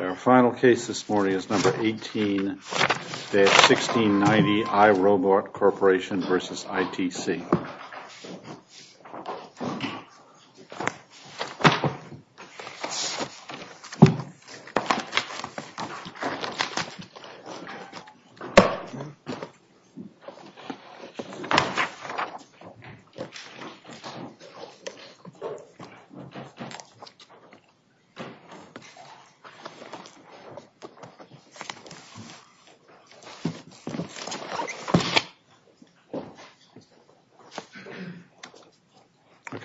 Our final case this morning is number 18-1690 iRobot Corporation v. ITC.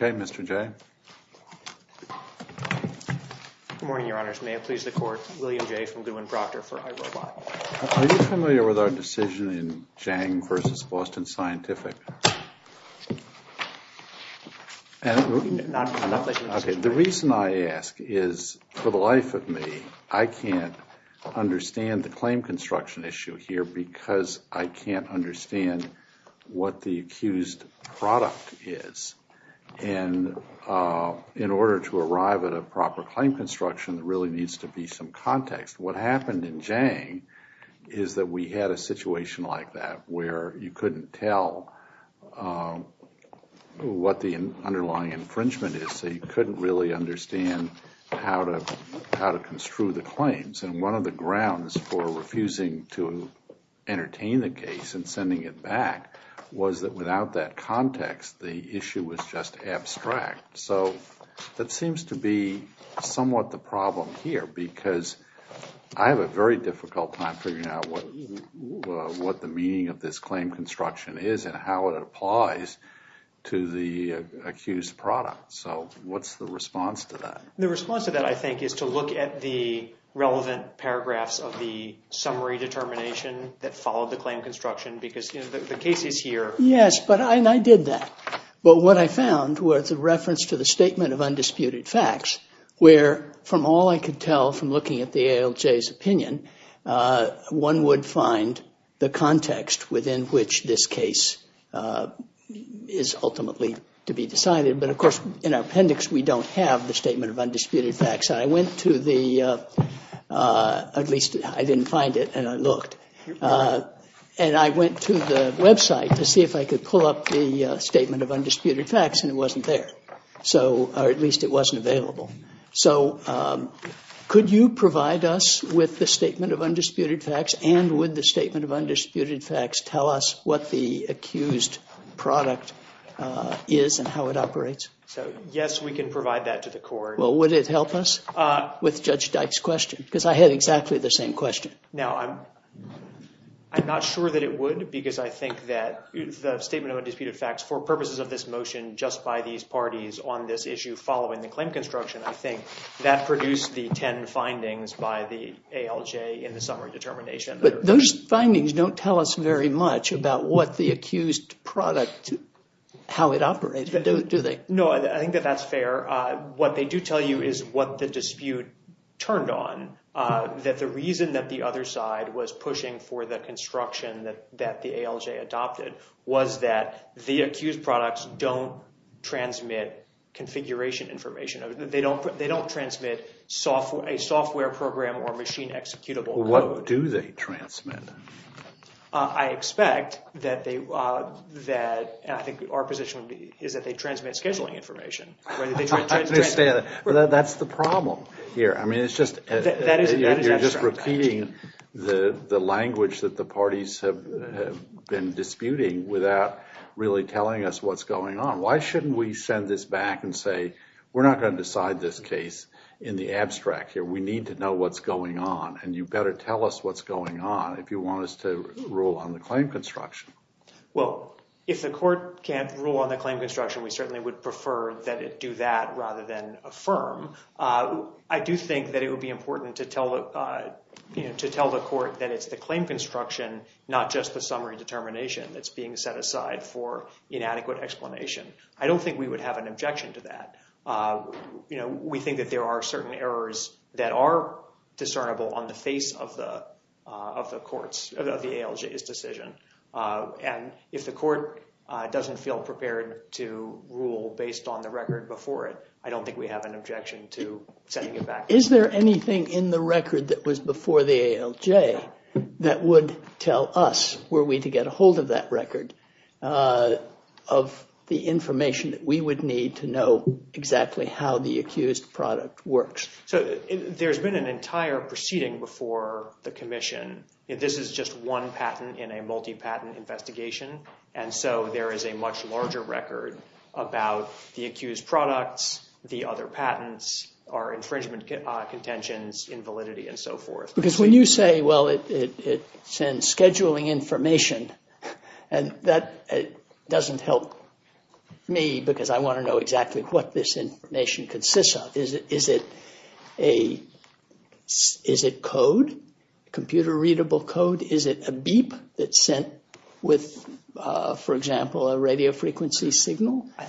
Are you familiar with our decision in Zhang v. Boston Scientific? The reason I ask is, for the life of me, I can't understand the claim construction issue here because I can't understand what the accused product is. And in order to arrive at a proper claim construction, there really needs to be some context. What happened in Zhang is that we had a situation like that where you couldn't tell what the underlying infringement is, so you couldn't really understand how to construe the claims. And one of the grounds for refusing to entertain the case and sending it back was that without that context, the issue was just abstract. So that seems to be somewhat the problem here because I have a very difficult time figuring out what the meaning of this claim construction is and how it applies to the accused product. So what's the response to that? The response to that, I think, is to look at the relevant paragraphs of the summary determination that followed the claim construction because the case is here. Yes, and I did that. But what I found was a reference to the statement of undisputed facts where, from all I could tell from looking at the ALJ's opinion, one would find the context within which this case is ultimately to be decided. But, of course, in our appendix, we don't have the statement of undisputed facts. I went to the – at least I didn't find it, and I looked. And I went to the website to see if I could pull up the statement of undisputed facts, and it wasn't there, or at least it wasn't available. So could you provide us with the statement of undisputed facts? And would the statement of undisputed facts tell us what the accused product is and how it operates? So, yes, we can provide that to the court. Well, would it help us with Judge Dyke's question? Because I had exactly the same question. Now, I'm not sure that it would because I think that the statement of undisputed facts, for purposes of this motion, just by these parties on this issue following the claim construction, I think that produced the 10 findings by the ALJ in the summary determination. But those findings don't tell us very much about what the accused product – how it operates, do they? No, I think that that's fair. What they do tell you is what the dispute turned on, that the reason that the other side was pushing for the construction that the ALJ adopted was that the accused products don't transmit configuration information. They don't transmit a software program or machine-executable code. What do they transmit? I expect that they – I think our position is that they transmit scheduling information. I understand. That's the problem here. I mean, it's just – you're just repeating the language that the parties have been disputing without really telling us what's going on. Why shouldn't we send this back and say, we're not going to decide this case in the abstract here. We need to know what's going on, and you better tell us what's going on if you want us to rule on the claim construction. Well, if the court can't rule on the claim construction, we certainly would prefer that it do that rather than affirm. I do think that it would be important to tell the court that it's the claim construction, not just the summary determination, that's being set aside for inadequate explanation. I don't think we would have an objection to that. We think that there are certain errors that are discernible on the face of the court's – of the ALJ's decision. And if the court doesn't feel prepared to rule based on the record before it, I don't think we have an objection to sending it back. Is there anything in the record that was before the ALJ that would tell us were we to get a hold of that record of the information that we would need to know exactly how the accused product works? So there's been an entire proceeding before the commission. This is just one patent in a multi-patent investigation. And so there is a much larger record about the accused products, the other patents, our infringement contentions, invalidity, and so forth. Because when you say, well, it sends scheduling information, and that doesn't help me, because I want to know exactly what this information consists of. Is it code, computer-readable code? Is it a beep that's sent with, for example, a radio frequency signal? I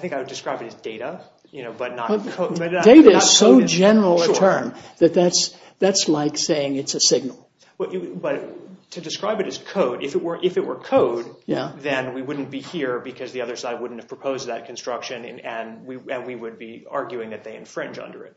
think I would describe it as data, but not code. Data is so general a term that that's like saying it's a signal. But to describe it as code, if it were code, then we wouldn't be here, because the other side wouldn't have proposed that construction, and we would be arguing that they infringe under it.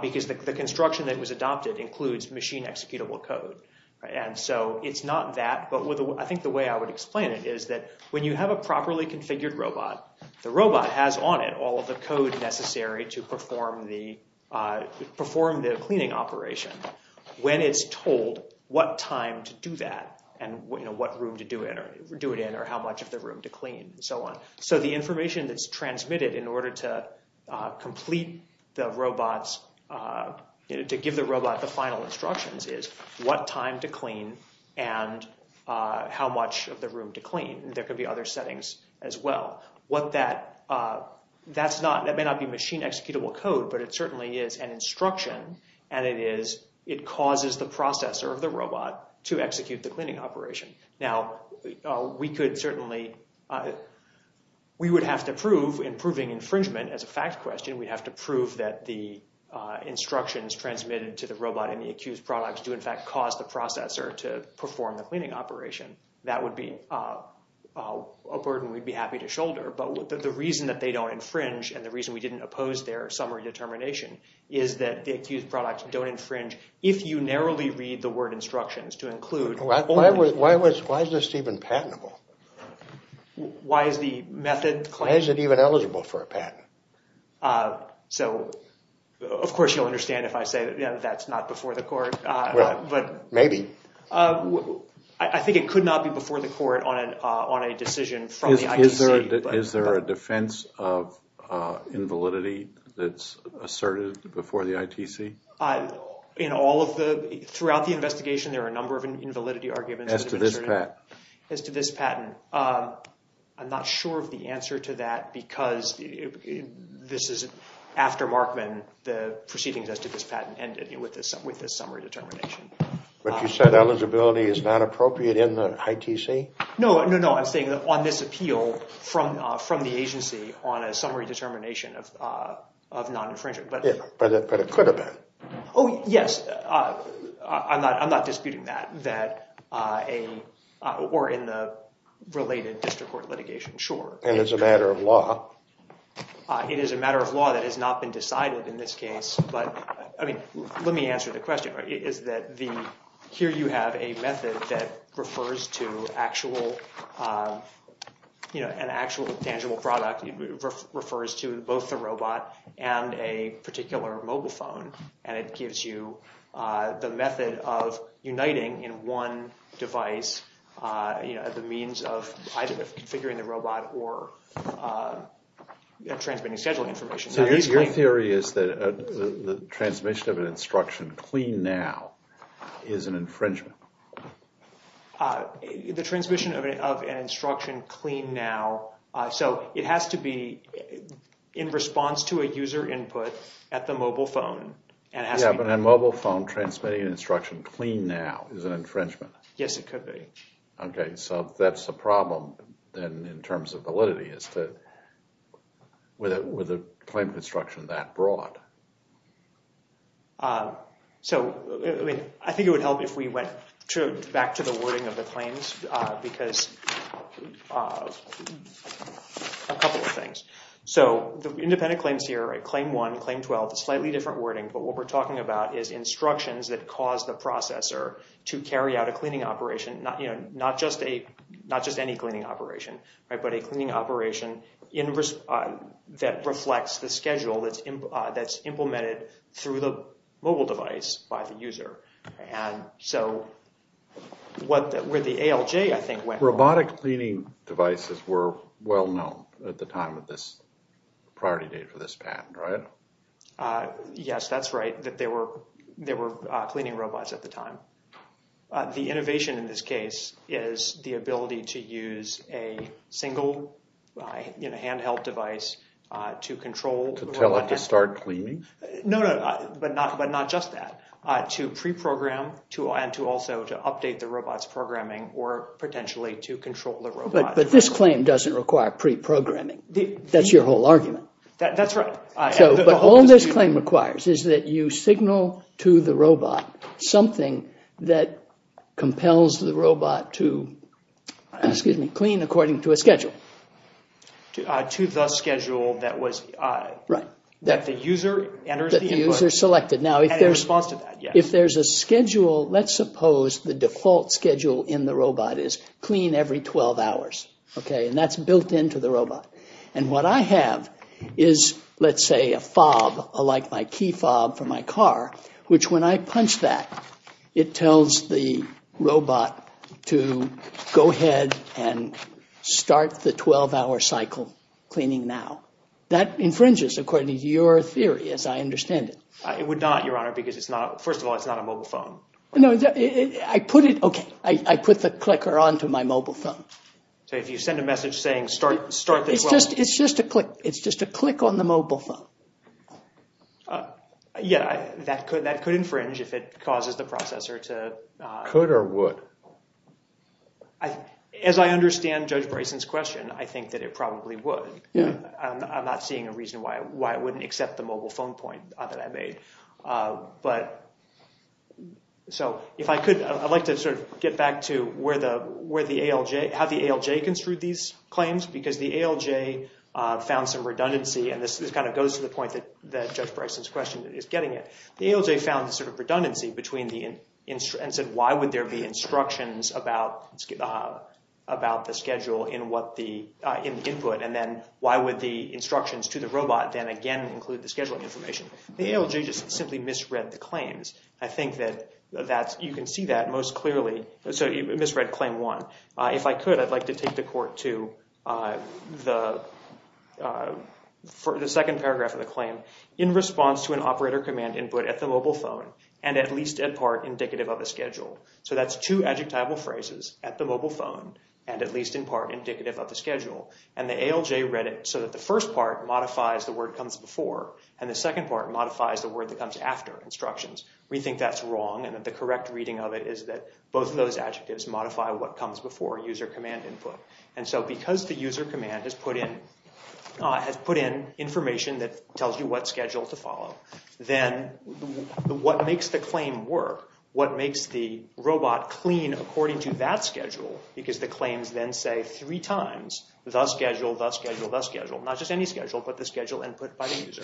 Because the construction that was adopted includes machine-executable code. And so it's not that, but I think the way I would explain it is that when you have a properly configured robot, the robot has on it all of the code necessary to perform the cleaning operation. When it's told what time to do that, and what room to do it in, or how much of the room to clean, and so on. So the information that's transmitted in order to give the robot the final instructions is what time to clean and how much of the room to clean. There could be other settings as well. That may not be machine-executable code, but it certainly is an instruction, and it causes the processor of the robot to execute the cleaning operation. Now, we would have to prove, in proving infringement as a fact question, we'd have to prove that the instructions transmitted to the robot and the accused products do in fact cause the processor to perform the cleaning operation. That would be a burden we'd be happy to shoulder. But the reason that they don't infringe, and the reason we didn't oppose their summary determination, is that the accused products don't infringe if you narrowly read the word instructions to include. Why is this even patentable? Why is the method claimed? Why is it even eligible for a patent? So, of course you'll understand if I say that's not before the court. Maybe. I think it could not be before the court on a decision from the ITC. Is there a defense of invalidity that's asserted before the ITC? Throughout the investigation, there are a number of invalidity arguments. As to this patent. As to this patent. I'm not sure of the answer to that because this is after Markman, the proceedings as to this patent ended with this summary determination. But you said eligibility is not appropriate in the ITC? No, no, no. I'm saying on this appeal from the agency on a summary determination of non-infringement. But it could have been. Oh, yes. I'm not disputing that. Or in the related district court litigation, sure. And it's a matter of law. It is a matter of law that has not been decided in this case. Let me answer the question. Here you have a method that refers to an actual tangible product. It refers to both the robot and a particular mobile phone. And it gives you the method of uniting in one device the means of either configuring the robot or transmitting scheduling information. So your theory is that the transmission of an instruction clean now is an infringement? The transmission of an instruction clean now. So it has to be in response to a user input at the mobile phone. Yeah, but a mobile phone transmitting instruction clean now is an infringement. Yes, it could be. Okay, so that's the problem then in terms of validity is that with a claim construction that broad. So I think it would help if we went back to the wording of the claims because a couple of things. So the independent claims here, claim 1, claim 12, slightly different wording. But what we're talking about is instructions that cause the processor to carry out a cleaning operation. Not just any cleaning operation, but a cleaning operation that reflects the schedule that's implemented through the mobile device by the user. Robotic cleaning devices were well known at the time of this priority date for this patent, right? Yes, that's right. They were cleaning robots at the time. The innovation in this case is the ability to use a single handheld device to control. To tell it to start cleaning? No, but not just that. To pre-program and to also update the robot's programming or potentially to control the robot. But this claim doesn't require pre-programming. That's your whole argument. That's right. But all this claim requires is that you signal to the robot something that compels the robot to clean according to a schedule. To the schedule that the user enters. That the user selected. Now if there's a schedule, let's suppose the default schedule in the robot is clean every 12 hours. And what I have is, let's say, a fob, like my key fob for my car, which when I punch that, it tells the robot to go ahead and start the 12-hour cycle cleaning now. That infringes according to your theory, as I understand it. It would not, Your Honor, because it's not, first of all, it's not a mobile phone. No, I put it, okay, I put the clicker onto my mobile phone. So if you send a message saying start the 12-hour. It's just a click. It's just a click on the mobile phone. Yeah, that could infringe if it causes the processor to. Could or would? As I understand Judge Bryson's question, I think that it probably would. Yeah. I'm not seeing a reason why it wouldn't accept the mobile phone point that I made. But so if I could, I'd like to sort of get back to where the ALJ, how the ALJ construed these claims, because the ALJ found some redundancy. And this kind of goes to the point that Judge Bryson's question is getting at. The ALJ found sort of redundancy between the, and said why would there be instructions about the schedule in what the input? And then why would the instructions to the robot then again include the scheduling information? The ALJ just simply misread the claims. I think that you can see that most clearly. So you misread claim one. If I could, I'd like to take the court to the second paragraph of the claim. In response to an operator command input at the mobile phone, and at least in part indicative of the schedule. So that's two adjectival phrases, at the mobile phone, and at least in part indicative of the schedule. And the ALJ read it so that the first part modifies the word comes before, and the second part modifies the word that comes after instructions. We think that's wrong, and that the correct reading of it is that both of those adjectives modify what comes before user command input. And so because the user command has put in information that tells you what schedule to follow, then what makes the claim work? What makes the robot clean according to that schedule? Because the claims then say three times, thus schedule, thus schedule, thus schedule. Not just any schedule, but the schedule input by the user.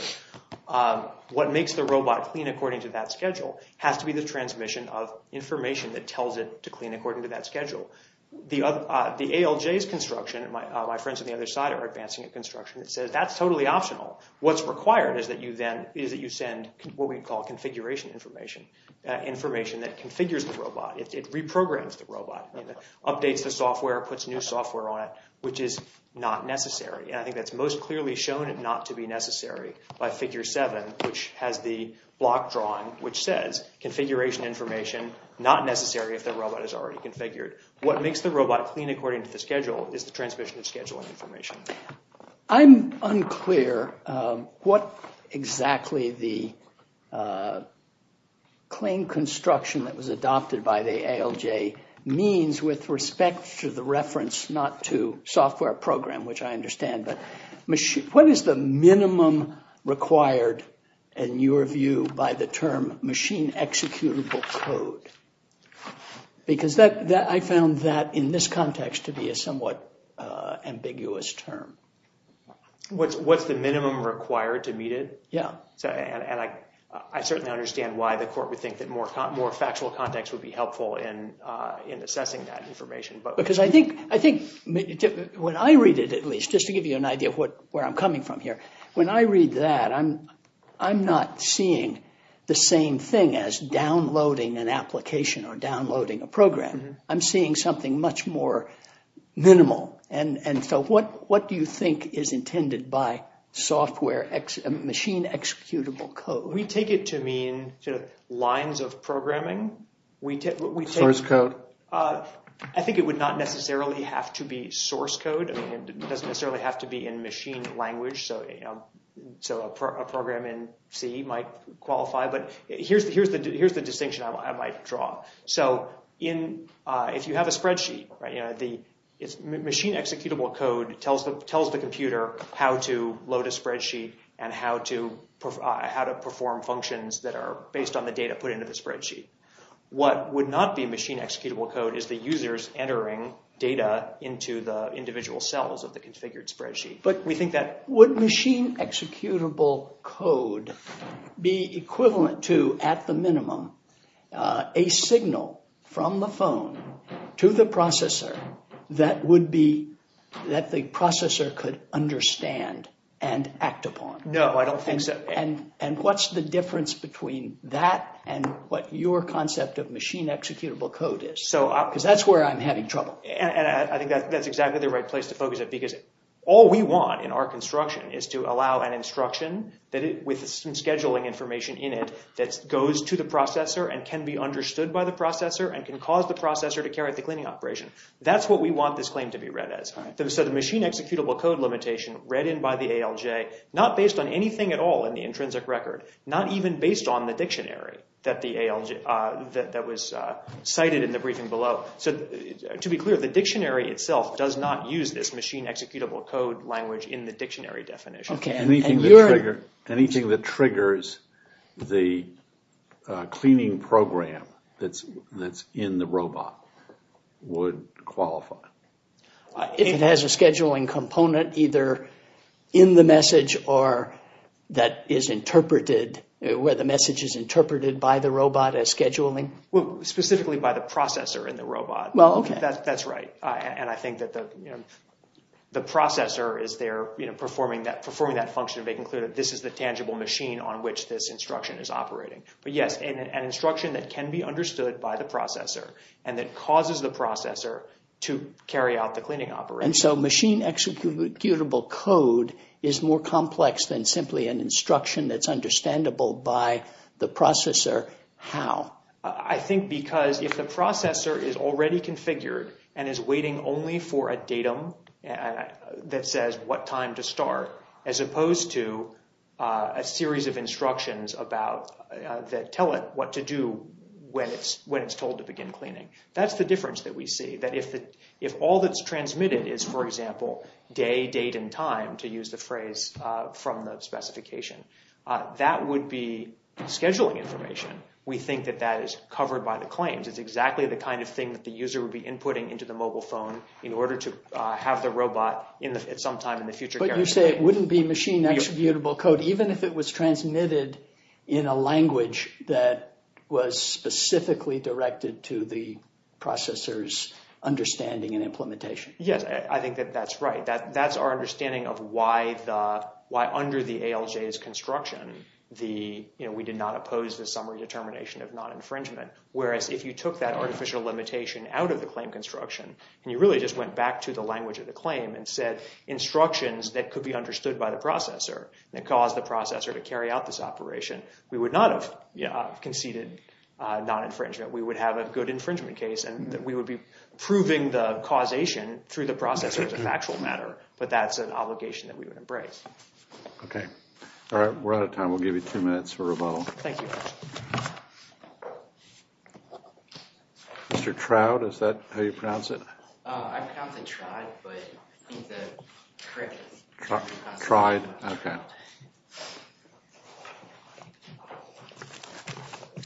What makes the robot clean according to that schedule has to be the transmission of information that tells it to clean according to that schedule. The ALJ's construction, my friends on the other side are advancing a construction that says that's totally optional. What's required is that you send what we call configuration information. Information that configures the robot. It reprograms the robot. Updates the software, puts new software on it, which is not necessary. And I think that's most clearly shown not to be necessary by Figure 7, which has the block drawing which says configuration information not necessary if the robot is already configured. What makes the robot clean according to the schedule is the transmission of scheduling information. I'm unclear what exactly the claim construction that was adopted by the ALJ means with respect to the reference not to software program, which I understand. What is the minimum required in your view by the term machine executable code? Because I found that in this context to be a somewhat ambiguous term. What's the minimum required to meet it? Yeah. And I certainly understand why the court would think that more factual context would be helpful in assessing that information. Because I think when I read it, at least, just to give you an idea of where I'm coming from here, when I read that, I'm not seeing the same thing as downloading an application or downloading a program. I'm seeing something much more minimal. And so what do you think is intended by software machine executable code? We take it to mean lines of programming. Source code. I think it would not necessarily have to be source code. It doesn't necessarily have to be in machine language. So a program in C might qualify. But here's the distinction I might draw. So if you have a spreadsheet, machine executable code tells the computer how to load a spreadsheet and how to perform functions that are based on the data put into the spreadsheet. What would not be machine executable code is the users entering data into the individual cells of the configured spreadsheet. But would machine executable code be equivalent to, at the minimum, a signal from the phone to the processor that the processor could understand and act upon? No, I don't think so. And what's the difference between that and what your concept of machine executable code is? Because that's where I'm having trouble. And I think that's exactly the right place to focus it. Because all we want in our construction is to allow an instruction with some scheduling information in it that goes to the processor and can be understood by the processor and can cause the processor to carry out the cleaning operation. That's what we want this claim to be read as. So the machine executable code limitation read in by the ALJ, not based on anything at all in the intrinsic record, not even based on the dictionary that was cited in the briefing below. So to be clear, the dictionary itself does not use this machine executable code language in the dictionary definition. Anything that triggers the cleaning program that's in the robot would qualify. If it has a scheduling component either in the message or that is interpreted, where the message is interpreted by the robot as scheduling? Well, specifically by the processor in the robot. Well, OK. That's right. And I think that the processor is there performing that function, making clear that this is the tangible machine on which this instruction is operating. But yes, an instruction that can be understood by the processor and that causes the processor to carry out the cleaning operation. And so machine executable code is more complex than simply an instruction that's understandable by the processor. How? I think because if the processor is already configured and is waiting only for a datum that says what time to start, as opposed to a series of instructions that tell it what to do when it's told to begin cleaning. That's the difference that we see. That if all that's transmitted is, for example, day, date, and time, to use the phrase from the specification, that would be scheduling information. We think that that is covered by the claims. It's exactly the kind of thing that the user would be inputting into the mobile phone in order to have the robot at some time in the future. But you say it wouldn't be machine executable code, even if it was transmitted in a language that was specifically directed to the processor's understanding and implementation. Yes, I think that that's right. That's our understanding of why under the ALJ's construction, we did not oppose the summary determination of non-infringement. Whereas if you took that artificial limitation out of the claim construction, and you really just went back to the language of the claim and said instructions that could be understood by the processor, and it caused the processor to carry out this operation, we would not have conceded non-infringement. We would have a good infringement case, and we would be proving the causation through the processor as a factual matter. But that's an obligation that we would embrace. OK. All right, we're out of time. We'll give you two minutes for rebuttal. Thank you. Mr. Trout, is that how you pronounce it? I pronounce it Trout, but I think the correct pronunciation is Trout. Trout, OK.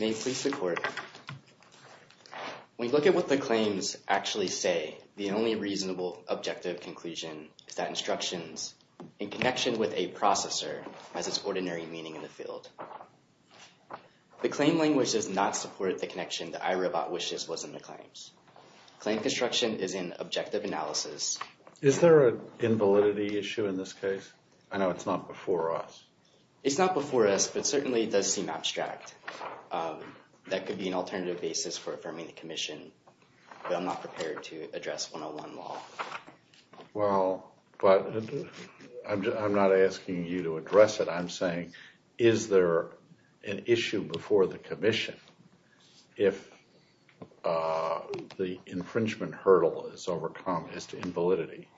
May it please the court. When you look at what the claims actually say, the only reasonable objective conclusion is that instructions, in connection with a processor, has its ordinary meaning in the field. The claim language does not support the connection that iRobot wishes was in the claims. Claim construction is an objective analysis. Is there an invalidity issue in this case? I know it's not before us. It's not before us, but certainly it does seem abstract. That could be an alternative basis for affirming the commission, but I'm not prepared to address 101 law. Well, but I'm not asking you to address it. I'm saying, is there an issue before the commission if the infringement hurdle is overcome as to invalidity?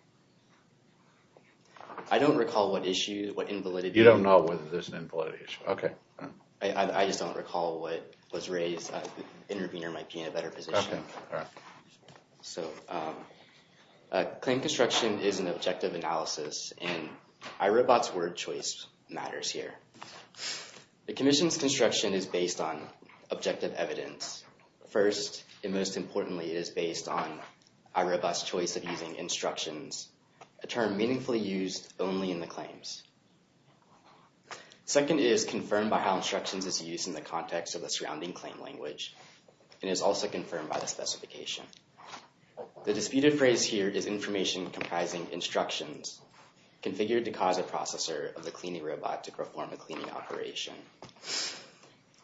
I don't recall what issue, what invalidity. You don't know whether there's an invalidity issue. OK. I just don't recall what was raised. The intervener might be in a better position. OK. So claim construction is an objective analysis, and iRobot's word choice matters here. The commission's construction is based on objective evidence. First and most importantly, it is based on iRobot's choice of using instructions, a term meaningfully used only in the claims. Second, it is confirmed by how instructions is used in the context of the surrounding claim language, and is also confirmed by the specification. The disputed phrase here is information comprising instructions configured to cause a processor of the cleaning robot to perform a cleaning operation.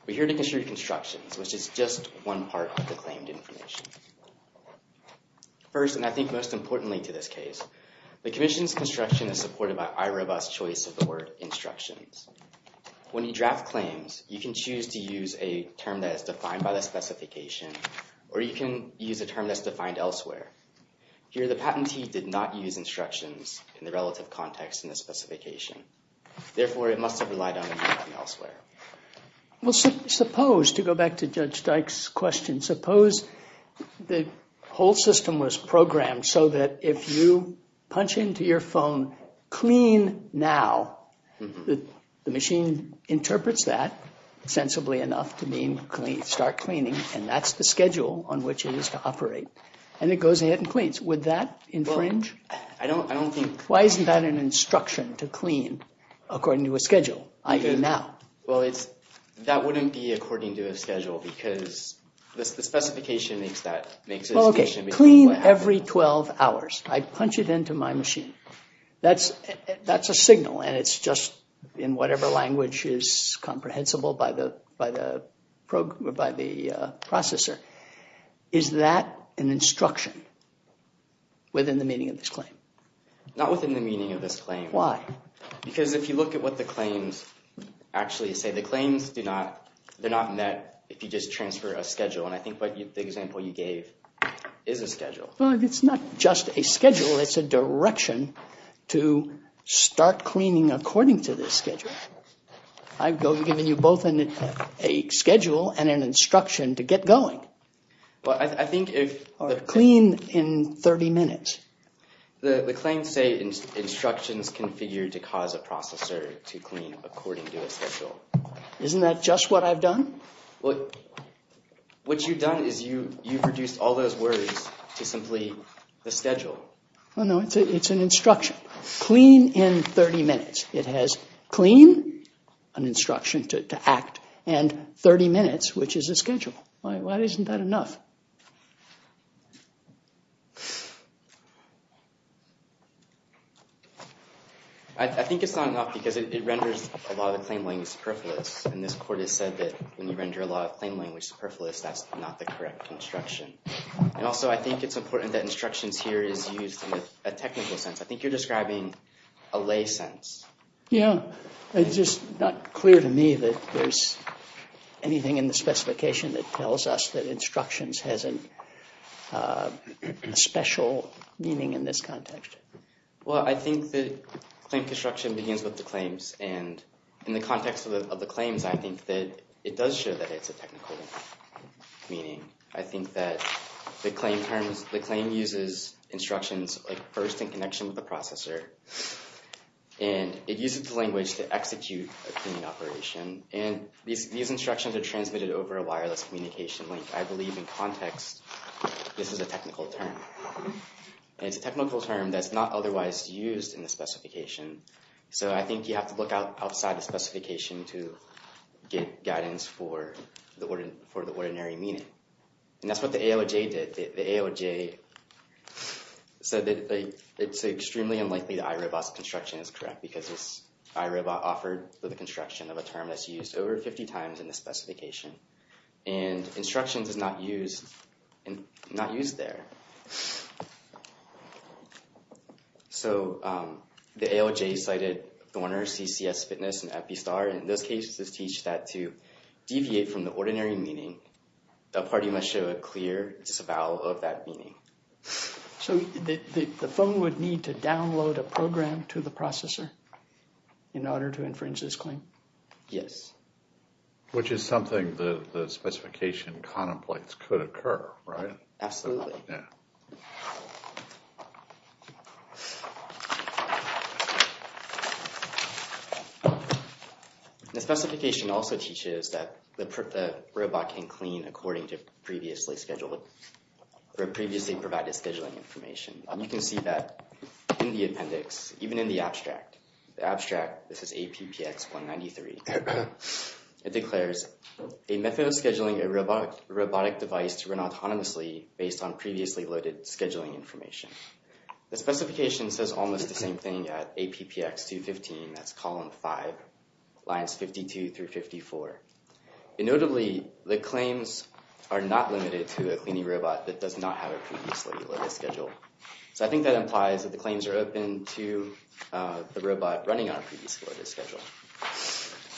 We're here to consider constructions, which is just one part of the claimed information. First, and I think most importantly to this case, the commission's construction is supported by iRobot's choice of the word instructions. When you draft claims, you can choose to use a term that is defined by the specification, or you can use a term that's defined elsewhere. Here, the patentee did not use instructions in the relative context in the specification. Therefore, it must have relied on a name from elsewhere. Well, suppose, to go back to Judge Dyke's question, suppose the whole system was programmed so that if you punch into your phone, clean now, the machine interprets that sensibly enough to mean start cleaning. And that's the schedule on which it is to operate. And it goes ahead and cleans. Would that infringe? I don't think. Why isn't that an instruction to clean according to a schedule, i.e. now? Well, that wouldn't be according to a schedule, because the specification makes that decision. Okay, clean every 12 hours. I punch it into my machine. That's a signal, and it's just, in whatever language is comprehensible by the processor. Is that an instruction within the meaning of this claim? Not within the meaning of this claim. Why? Because if you look at what the claims actually say, the claims do not—they're not met if you just transfer a schedule. And I think the example you gave is a schedule. Well, it's not just a schedule. It's a direction to start cleaning according to this schedule. I've given you both a schedule and an instruction to get going. Well, I think if— Or clean in 30 minutes. The claims say instructions configured to cause a processor to clean according to a schedule. Isn't that just what I've done? Well, what you've done is you've reduced all those words to simply the schedule. Well, no, it's an instruction. Clean in 30 minutes. It has clean, an instruction to act, and 30 minutes, which is a schedule. Why isn't that enough? I think it's not enough because it renders a lot of the claim language superfluous. And this court has said that when you render a lot of claim language superfluous, that's not the correct instruction. And also, I think it's important that instructions here is used in a technical sense. I think you're describing a lay sense. Yeah. It's just not clear to me that there's anything in the specification that tells us that instructions has a special meaning. Well, I think that claim construction begins with the claims. And in the context of the claims, I think that it does show that it's a technical meaning. I think that the claim uses instructions first in connection with the processor. And it uses the language to execute a cleaning operation. And these instructions are transmitted over a wireless communication link. I believe in context, this is a technical term. It's a technical term that's not otherwise used in the specification. So I think you have to look outside the specification to get guidance for the ordinary meaning. And that's what the AOJ did. The AOJ said that it's extremely unlikely that iRobot's construction is correct because iRobot offered for the construction of a term that's used over 50 times in the specification. And instructions is not used there. So the AOJ cited Thorner, CCS Fitness, and Epistar. And in those cases, it teaches that to deviate from the ordinary meaning, a party must show a clear disavowal of that meaning. So the phone would need to download a program to the processor in order to infringe this claim? Yes. Which is something the specification contemplates could occur, right? Absolutely. The specification also teaches that the robot can clean according to previously scheduled or previously provided scheduling information. And you can see that in the appendix, even in the abstract. The abstract, this is APPX193. It declares a method of scheduling a robotic device to run autonomously based on previously loaded scheduling information. The specification says almost the same thing at APPX215, that's column 5, lines 52 through 54. And notably, the claims are not limited to a cleaning robot that does not have a previously loaded schedule. So I think that implies that the claims are open to the robot running on a previously loaded schedule.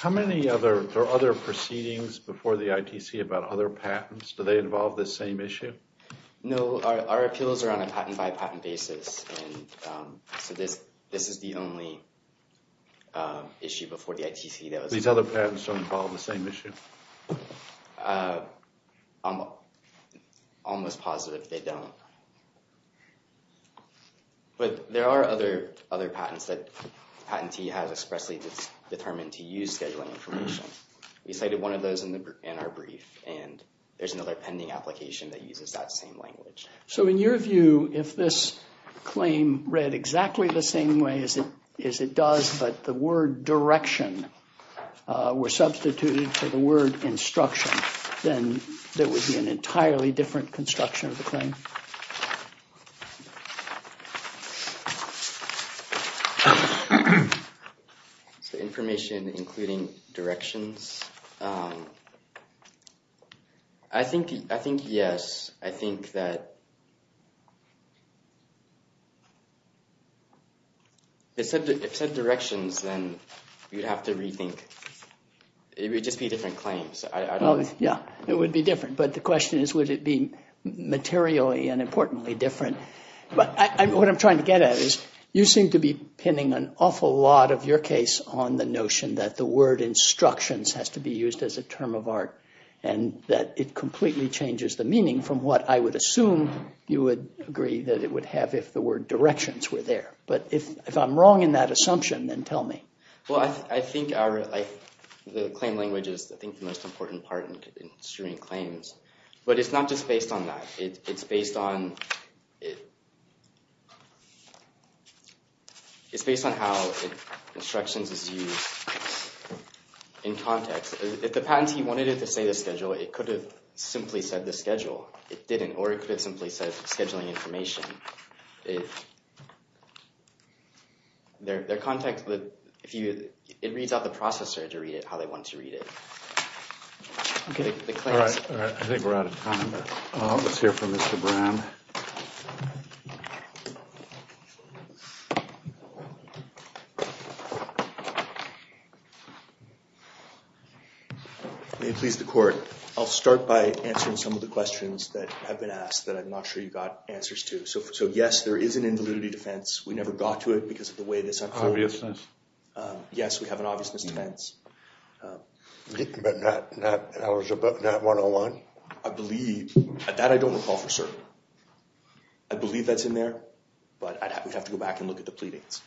How many other proceedings before the ITC about other patents, do they involve this same issue? No, our appeals are on a patent by patent basis. So this is the only issue before the ITC. These other patents don't involve the same issue? I'm almost positive they don't. But there are other patents that the patentee has expressly determined to use scheduling information. We cited one of those in our brief, and there's another pending application that uses that same language. So in your view, if this claim read exactly the same way as it does, but the word direction were substituted for the word instruction, then there would be an entirely different construction of the claim? So information including directions? I think yes. I think that if it said directions, then you'd have to rethink. It would just be different claims. Yeah, it would be different. But the question is, would it be materially and importantly different? But what I'm trying to get at is, you seem to be pinning an awful lot of your case on the notion that the word instructions has to be used as a term of art, and that it completely changes the meaning from what I would assume you would agree that it would have if the word directions were there. But if I'm wrong in that assumption, then tell me. Well, I think the claim language is, I think, the most important part in issuing claims. But it's not just based on that. It's based on how instructions is used in context. If the patentee wanted it to say the schedule, it could have simply said the schedule. It didn't. Or it could have simply said scheduling information. Their context, it reads out the processor to read it how they want to read it. All right. I think we're out of time. Let's hear from Mr. Brown. May it please the court. I'll start by answering some of the questions that have been asked that I'm not sure you got answers to. So, yes, there is an invalidity defense. We never got to it because of the way this unfolded. Obviousness. Yes, we have an obviousness defense. But that was not 101? I believe. That I don't recall for certain. I believe that's in there. But we'd have to go back and look at the pleadings.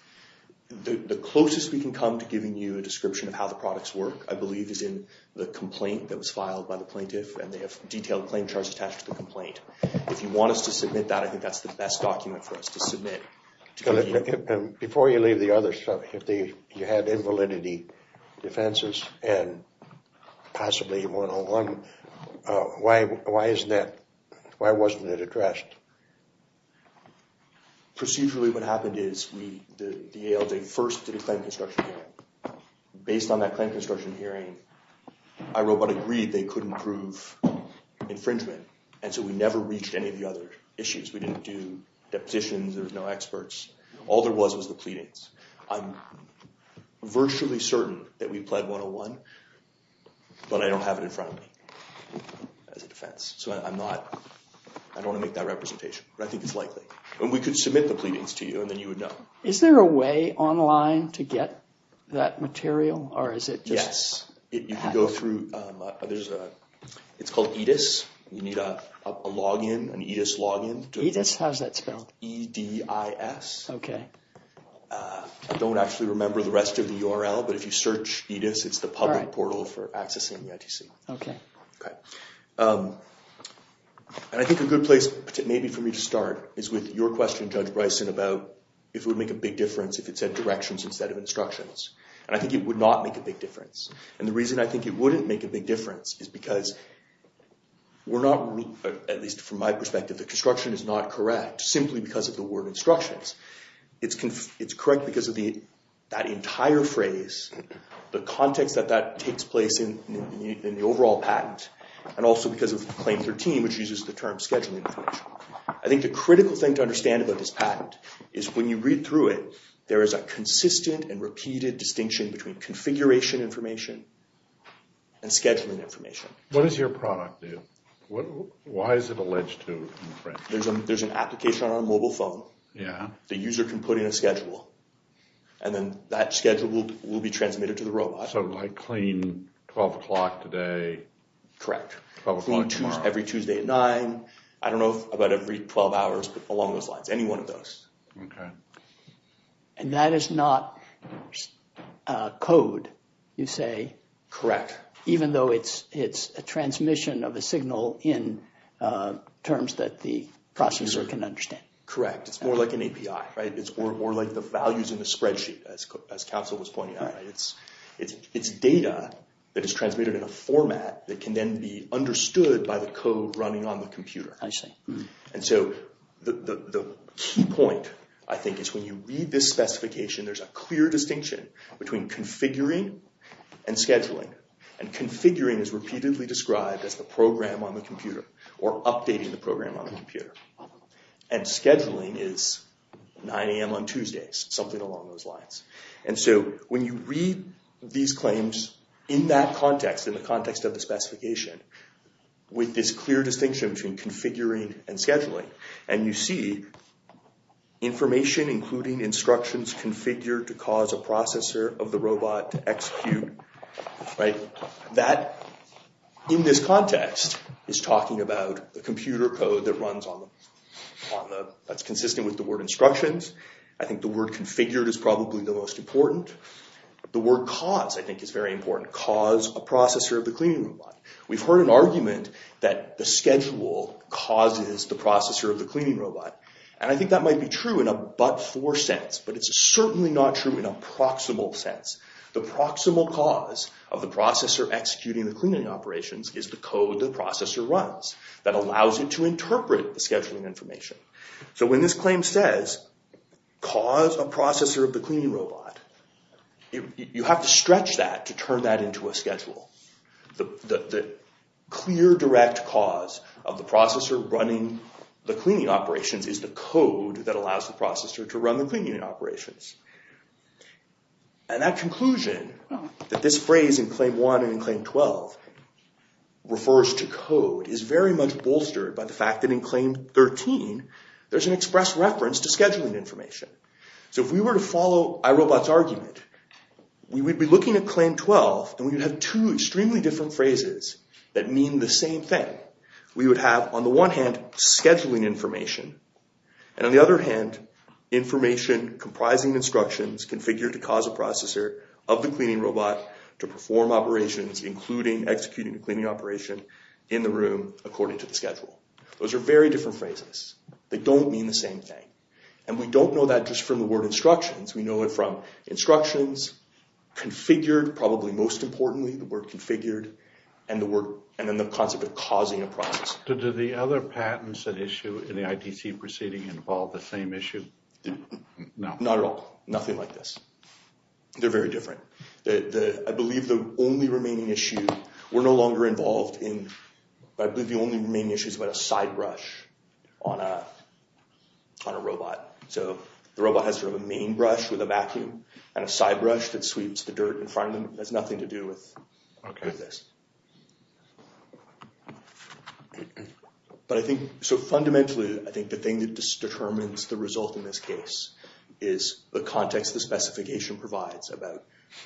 The closest we can come to giving you a description of how the products work, I believe, is in the complaint that was filed by the plaintiff. And they have a detailed claim charge attached to the complaint. If you want us to submit that, I think that's the best document for us to submit. Before you leave the others, if you had invalidity defenses and possibly 101, why wasn't it addressed? Procedurally, what happened is the ALJ first did a claim construction hearing. Based on that claim construction hearing, iRobot agreed they couldn't prove infringement. And so we never reached any of the other issues. We didn't do depositions. There was no experts. All there was was the pleadings. I'm virtually certain that we pled 101, but I don't have it in front of me as a defense. I don't want to make that representation. But I think it's likely. And we could submit the pleadings to you, and then you would know. Is there a way online to get that material? Yes. You can go through. It's called EDIS. You need a login, an EDIS login. EDIS? How's that spelled? E-D-I-S. Okay. I don't actually remember the rest of the URL, but if you search EDIS, it's the public portal for accessing the ITC. Okay. And I think a good place maybe for me to start is with your question, Judge Bryson, about if it would make a big difference if it said directions instead of instructions. And I think it would not make a big difference. And the reason I think it wouldn't make a big difference is because we're not, at least from my perspective, the construction is not correct simply because of the word instructions. It's correct because of that entire phrase, the context that that takes place in the overall patent, and also because of Claim 13, which uses the term scheduling information. I think the critical thing to understand about this patent is when you read through it, there is a consistent and repeated distinction between configuration information and scheduling information. What does your product do? Why is it alleged to? There's an application on a mobile phone. Yeah. The user can put in a schedule, and then that schedule will be transmitted to the robot. So like claim 12 o'clock today. Correct. 12 o'clock tomorrow. Every Tuesday at 9. I don't know about every 12 hours, but along those lines, any one of those. Okay. And that is not code, you say. Correct. Even though it's a transmission of a signal in terms that the processor can understand. Correct. It's more like an API, right? It's more like the values in the spreadsheet, as Council was pointing out. It's data that is transmitted in a format that can then be understood by the code running on the computer. I see. And so the key point, I think, is when you read this specification, there's a clear distinction between configuring and scheduling. And configuring is repeatedly described as the program on the computer or updating the program on the computer. And scheduling is 9 a.m. on Tuesdays, something along those lines. And so when you read these claims in that context, in the context of the specification, with this clear distinction between configuring and scheduling, and you see information including instructions configured to cause a processor of the robot to execute, that, in this context, is talking about the computer code that's consistent with the word instructions. I think the word configured is probably the most important. The word cause, I think, is very important. Cause a processor of the cleaning robot. We've heard an argument that the schedule causes the processor of the cleaning robot. And I think that might be true in a but-for sense, but it's certainly not true in a proximal sense. The proximal cause of the processor executing the cleaning operations is the code the processor runs that allows it to interpret the scheduling information. So when this claim says, cause a processor of the cleaning robot, the clear, direct cause of the processor running the cleaning operations is the code that allows the processor to run the cleaning operations. And that conclusion, that this phrase in Claim 1 and in Claim 12 refers to code, is very much bolstered by the fact that in Claim 13 there's an express reference to scheduling information. So if we were to follow iRobot's argument, we would be looking at Claim 12, and we would have two extremely different phrases that mean the same thing. We would have, on the one hand, scheduling information, and on the other hand, information comprising instructions configured to cause a processor of the cleaning robot to perform operations, including executing a cleaning operation, in the room according to the schedule. Those are very different phrases. They don't mean the same thing. And we don't know that just from the word instructions. We know it from instructions, configured, probably most importantly, the word configured, and then the concept of causing a processor. But do the other patents that issue in the ITC proceeding involve the same issue? No. Not at all. Nothing like this. They're very different. I believe the only remaining issue, we're no longer involved in, I believe the only remaining issue is about a side brush on a robot. So the robot has sort of a main brush with a vacuum, and a side brush that sweeps the dirt in front of them. It has nothing to do with this. But I think, so fundamentally, I think the thing that determines the result in this case is the context the specification provides about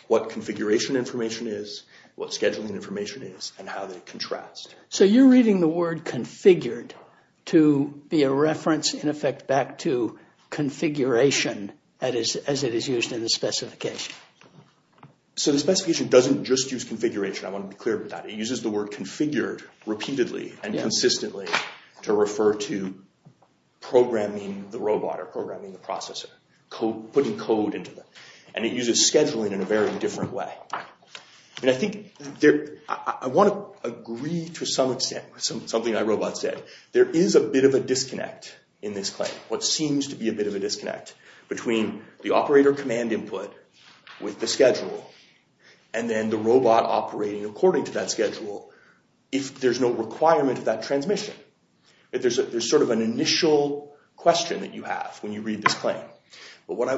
what configuration information is, what scheduling information is, and how they contrast. So you're reading the word configured to be a reference, in effect, back to configuration as it is used in the specification. So the specification doesn't just use configuration. I want to be clear about that. It uses the word configured repeatedly and consistently to refer to programming the robot or programming the processor, putting code into them. And it uses scheduling in a very different way. And I think I want to agree to some extent with something my robot said. There is a bit of a disconnect in this claim, what seems to be a bit of a disconnect, between the operator command input with the schedule, and then the robot operating according to that schedule, if there's no requirement of that transmission. There's sort of an initial question that you have when you read this claim. But what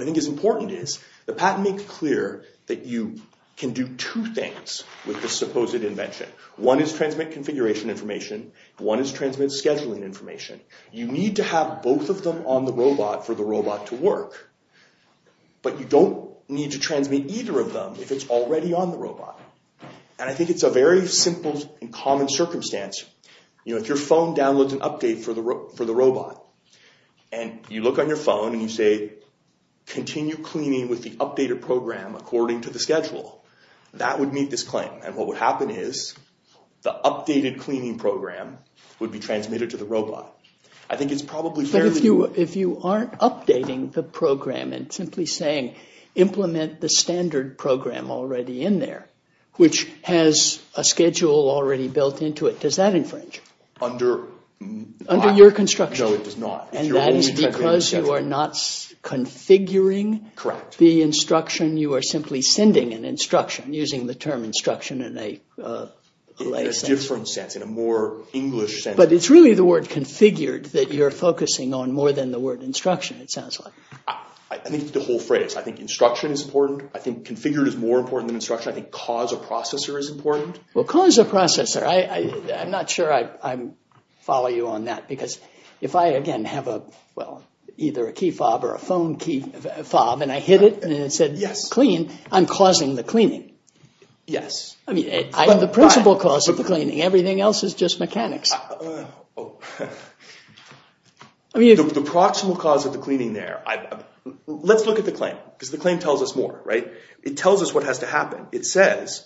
I think is important is the patent makes clear that you can do two things with this supposed invention. One is transmit configuration information. One is transmit scheduling information. You need to have both of them on the robot for the robot to work. But you don't need to transmit either of them if it's already on the robot. And I think it's a very simple and common circumstance. If your phone downloads an update for the robot, and you look on your phone and you say, continue cleaning with the updated program according to the schedule, that would meet this claim. And what would happen is the updated cleaning program would be transmitted to the robot. I think it's probably fair to do that. But if you aren't updating the program and simply saying, implement the standard program already in there, which has a schedule already built into it, does that infringe? Under my… Under your construction. No, it does not. And that is because you are not configuring… Correct. …the instruction. You are simply sending an instruction using the term instruction in a… In a different sense, in a more English sense. But it's really the word configured that you're focusing on more than the word instruction, it sounds like. I think the whole phrase. I think instruction is important. I think configured is more important than instruction. I think cause a processor is important. Well, cause a processor. I'm not sure I follow you on that. Because if I, again, have a, well, either a key fob or a phone key fob, and I hit it and it said clean, I'm causing the cleaning. Yes. I mean, I'm the principal cause of the cleaning. Everything else is just mechanics. Oh. I mean… The proximal cause of the cleaning there. Let's look at the claim because the claim tells us more, right? It tells us what has to happen. It says,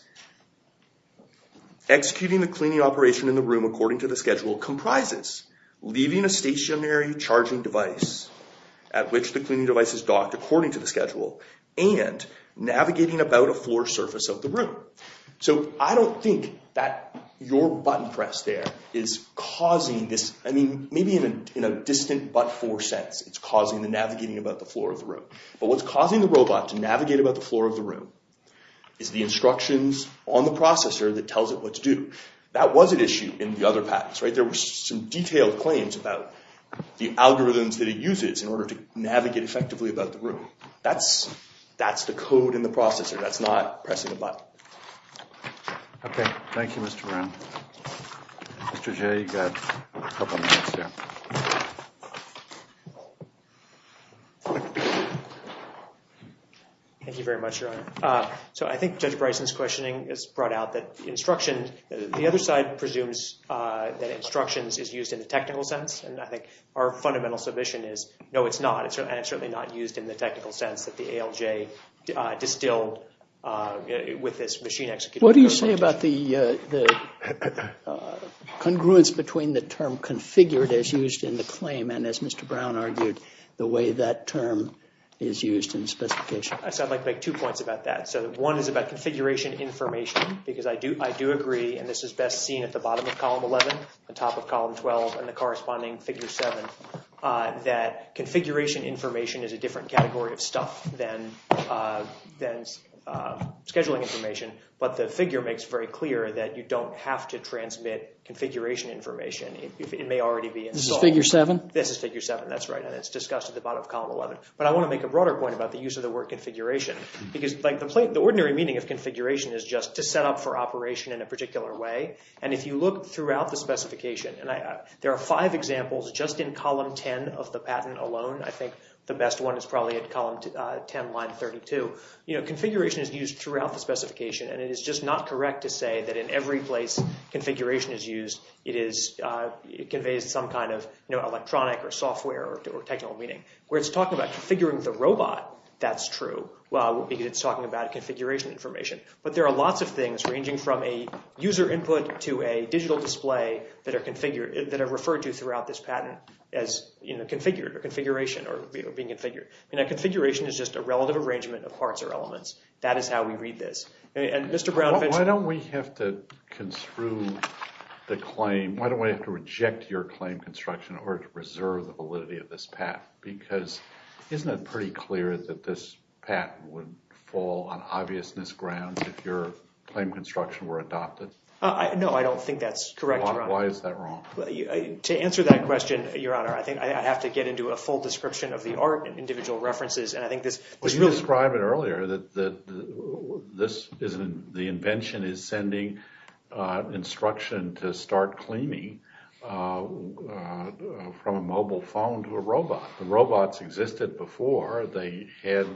Executing the cleaning operation in the room according to the schedule comprises leaving a stationary charging device at which the cleaning device is docked according to the schedule and navigating about a floor surface of the room. So, I don't think that your button press there is causing this. I mean, maybe in a distant but-for sense, it's causing the navigating about the floor of the room. But what's causing the robot to navigate about the floor of the room is the instructions on the processor that tells it what to do. That was an issue in the other patents, right? There were some detailed claims about the algorithms that it uses in order to navigate effectively about the room. That's the code in the processor. That's not pressing a button. Okay. Thank you, Mr. Brown. Mr. Jay, you've got a couple minutes there. Thank you very much, Your Honor. So, I think Judge Bryson's questioning has brought out that the instructions, the other side presumes that instructions is used in the technical sense. And I think our fundamental submission is, no, it's not. And it's certainly not used in the technical sense that the ALJ distilled with this machine-executing. What do you say about the congruence between the term configured as used in the claim and, as Mr. Brown argued, the way that term is used in specification? I'd like to make two points about that. One is about configuration information, because I do agree, and this is best seen at the bottom of Column 11, the top of Column 12, and the corresponding Figure 7, that configuration information is a different category of stuff than scheduling information. But the figure makes very clear that you don't have to transmit configuration information if it may already be installed. This is Figure 7? This is Figure 7, that's right, and it's discussed at the bottom of Column 11. But I want to make a broader point about the use of the word configuration, because the ordinary meaning of configuration is just to set up for operation in a particular way. And if you look throughout the specification, and there are five examples just in Column 10 of the patent alone. I think the best one is probably at Column 10, Line 32. Configuration is used throughout the specification, and it is just not correct to say that in every place configuration is used, it conveys some kind of electronic or software or technical meaning. Where it's talking about configuring the robot, that's true, because it's talking about configuration information. But there are lots of things ranging from a user input to a digital display that are referred to throughout this patent as configured or configuration or being configured. Configuration is just a relative arrangement of parts or elements. That is how we read this. Why don't we have to construe the claim, why don't we have to reject your claim construction in order to preserve the validity of this patent? Because isn't it pretty clear that this patent would fall on obviousness grounds if your claim construction were adopted? No, I don't think that's correct, Your Honor. Why is that wrong? To answer that question, Your Honor, I think I have to get into a full description of the art and individual references. But you described it earlier that the invention is sending instruction to start cleaning from a mobile phone to a robot. The robots existed before. They had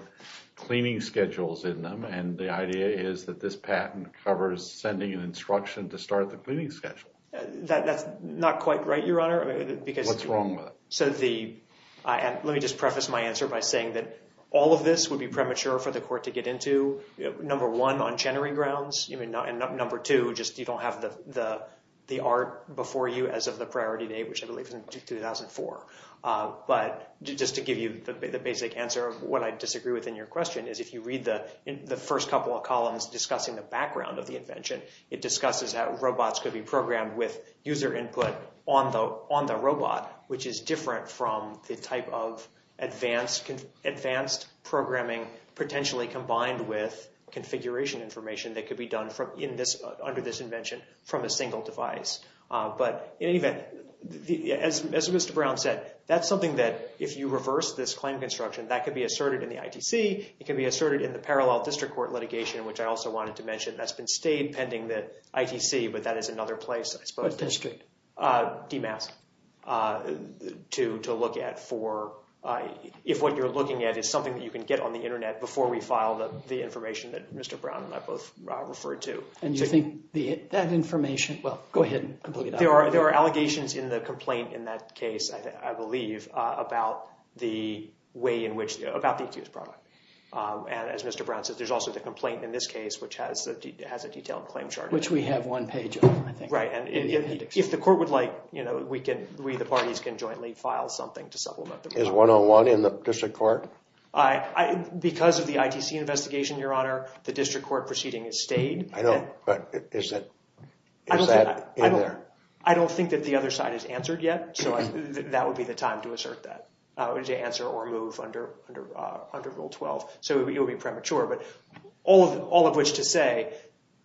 cleaning schedules in them, and the idea is that this patent covers sending an instruction to start the cleaning schedule. That's not quite right, Your Honor. What's wrong with it? Let me just preface my answer by saying that all of this would be premature for the court to get into, number one, on Chenery grounds, and number two, just you don't have the art before you as of the priority date, which I believe is in 2004. But just to give you the basic answer of what I disagree with in your question, is if you read the first couple of columns discussing the background of the invention, it discusses how robots could be programmed with user input on the robot, which is different from the type of advanced programming potentially combined with configuration information that could be done under this invention from a single device. But in any event, as Mr. Brown said, that's something that if you reverse this claim construction, that could be asserted in the ITC. It could be asserted in the parallel district court litigation, which I also wanted to mention. That's been stayed pending the ITC, but that is another place, I suppose. What district? DMASC, to look at for if what you're looking at is something that you can get on the internet before we file the information that Mr. Brown and I both referred to. And you think that information—well, go ahead and complete it. There are allegations in the complaint in that case, I believe, about the way in which—about the ITC's product. And as Mr. Brown said, there's also the complaint in this case, which has a detailed claim chart. Which we have one page of, I think. Right, and if the court would like, we, the parties, can jointly file something to supplement the complaint. Is 101 in the district court? Because of the ITC investigation, Your Honor, the district court proceeding has stayed. I know, but is that in there? I don't think that the other side has answered yet, so that would be the time to assert that, to answer or move under Rule 12. So it would be premature. But all of which to say,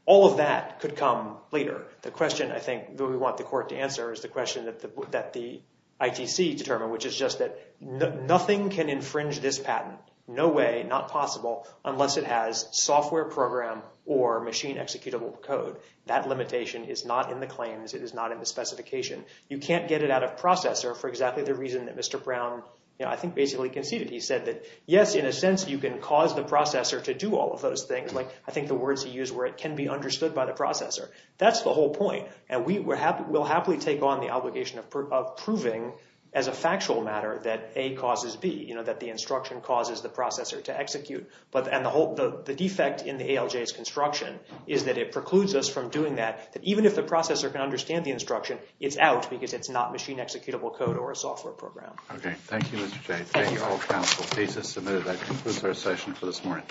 all of that could come later. The question, I think, that we want the court to answer is the question that the ITC determined, which is just that nothing can infringe this patent, no way, not possible, unless it has software program or machine-executable code. That limitation is not in the claims. It is not in the specification. You can't get it out of processor for exactly the reason that Mr. Brown, I think, basically conceded. He said that, yes, in a sense, you can cause the processor to do all of those things. I think the words he used were, can be understood by the processor. That's the whole point. And we will happily take on the obligation of proving, as a factual matter, that A causes B, that the instruction causes the processor to execute. And the defect in the ALJ's construction is that it precludes us from doing that, that even if the processor can understand the instruction, it's out because it's not machine-executable code or a software program. Okay, thank you, Mr. Jay. Thank you all. The case is submitted. That concludes our session for this morning.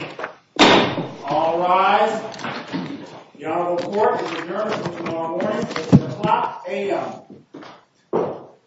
All rise. The Honorable Court is adjourned until tomorrow morning at 2 o'clock a.m.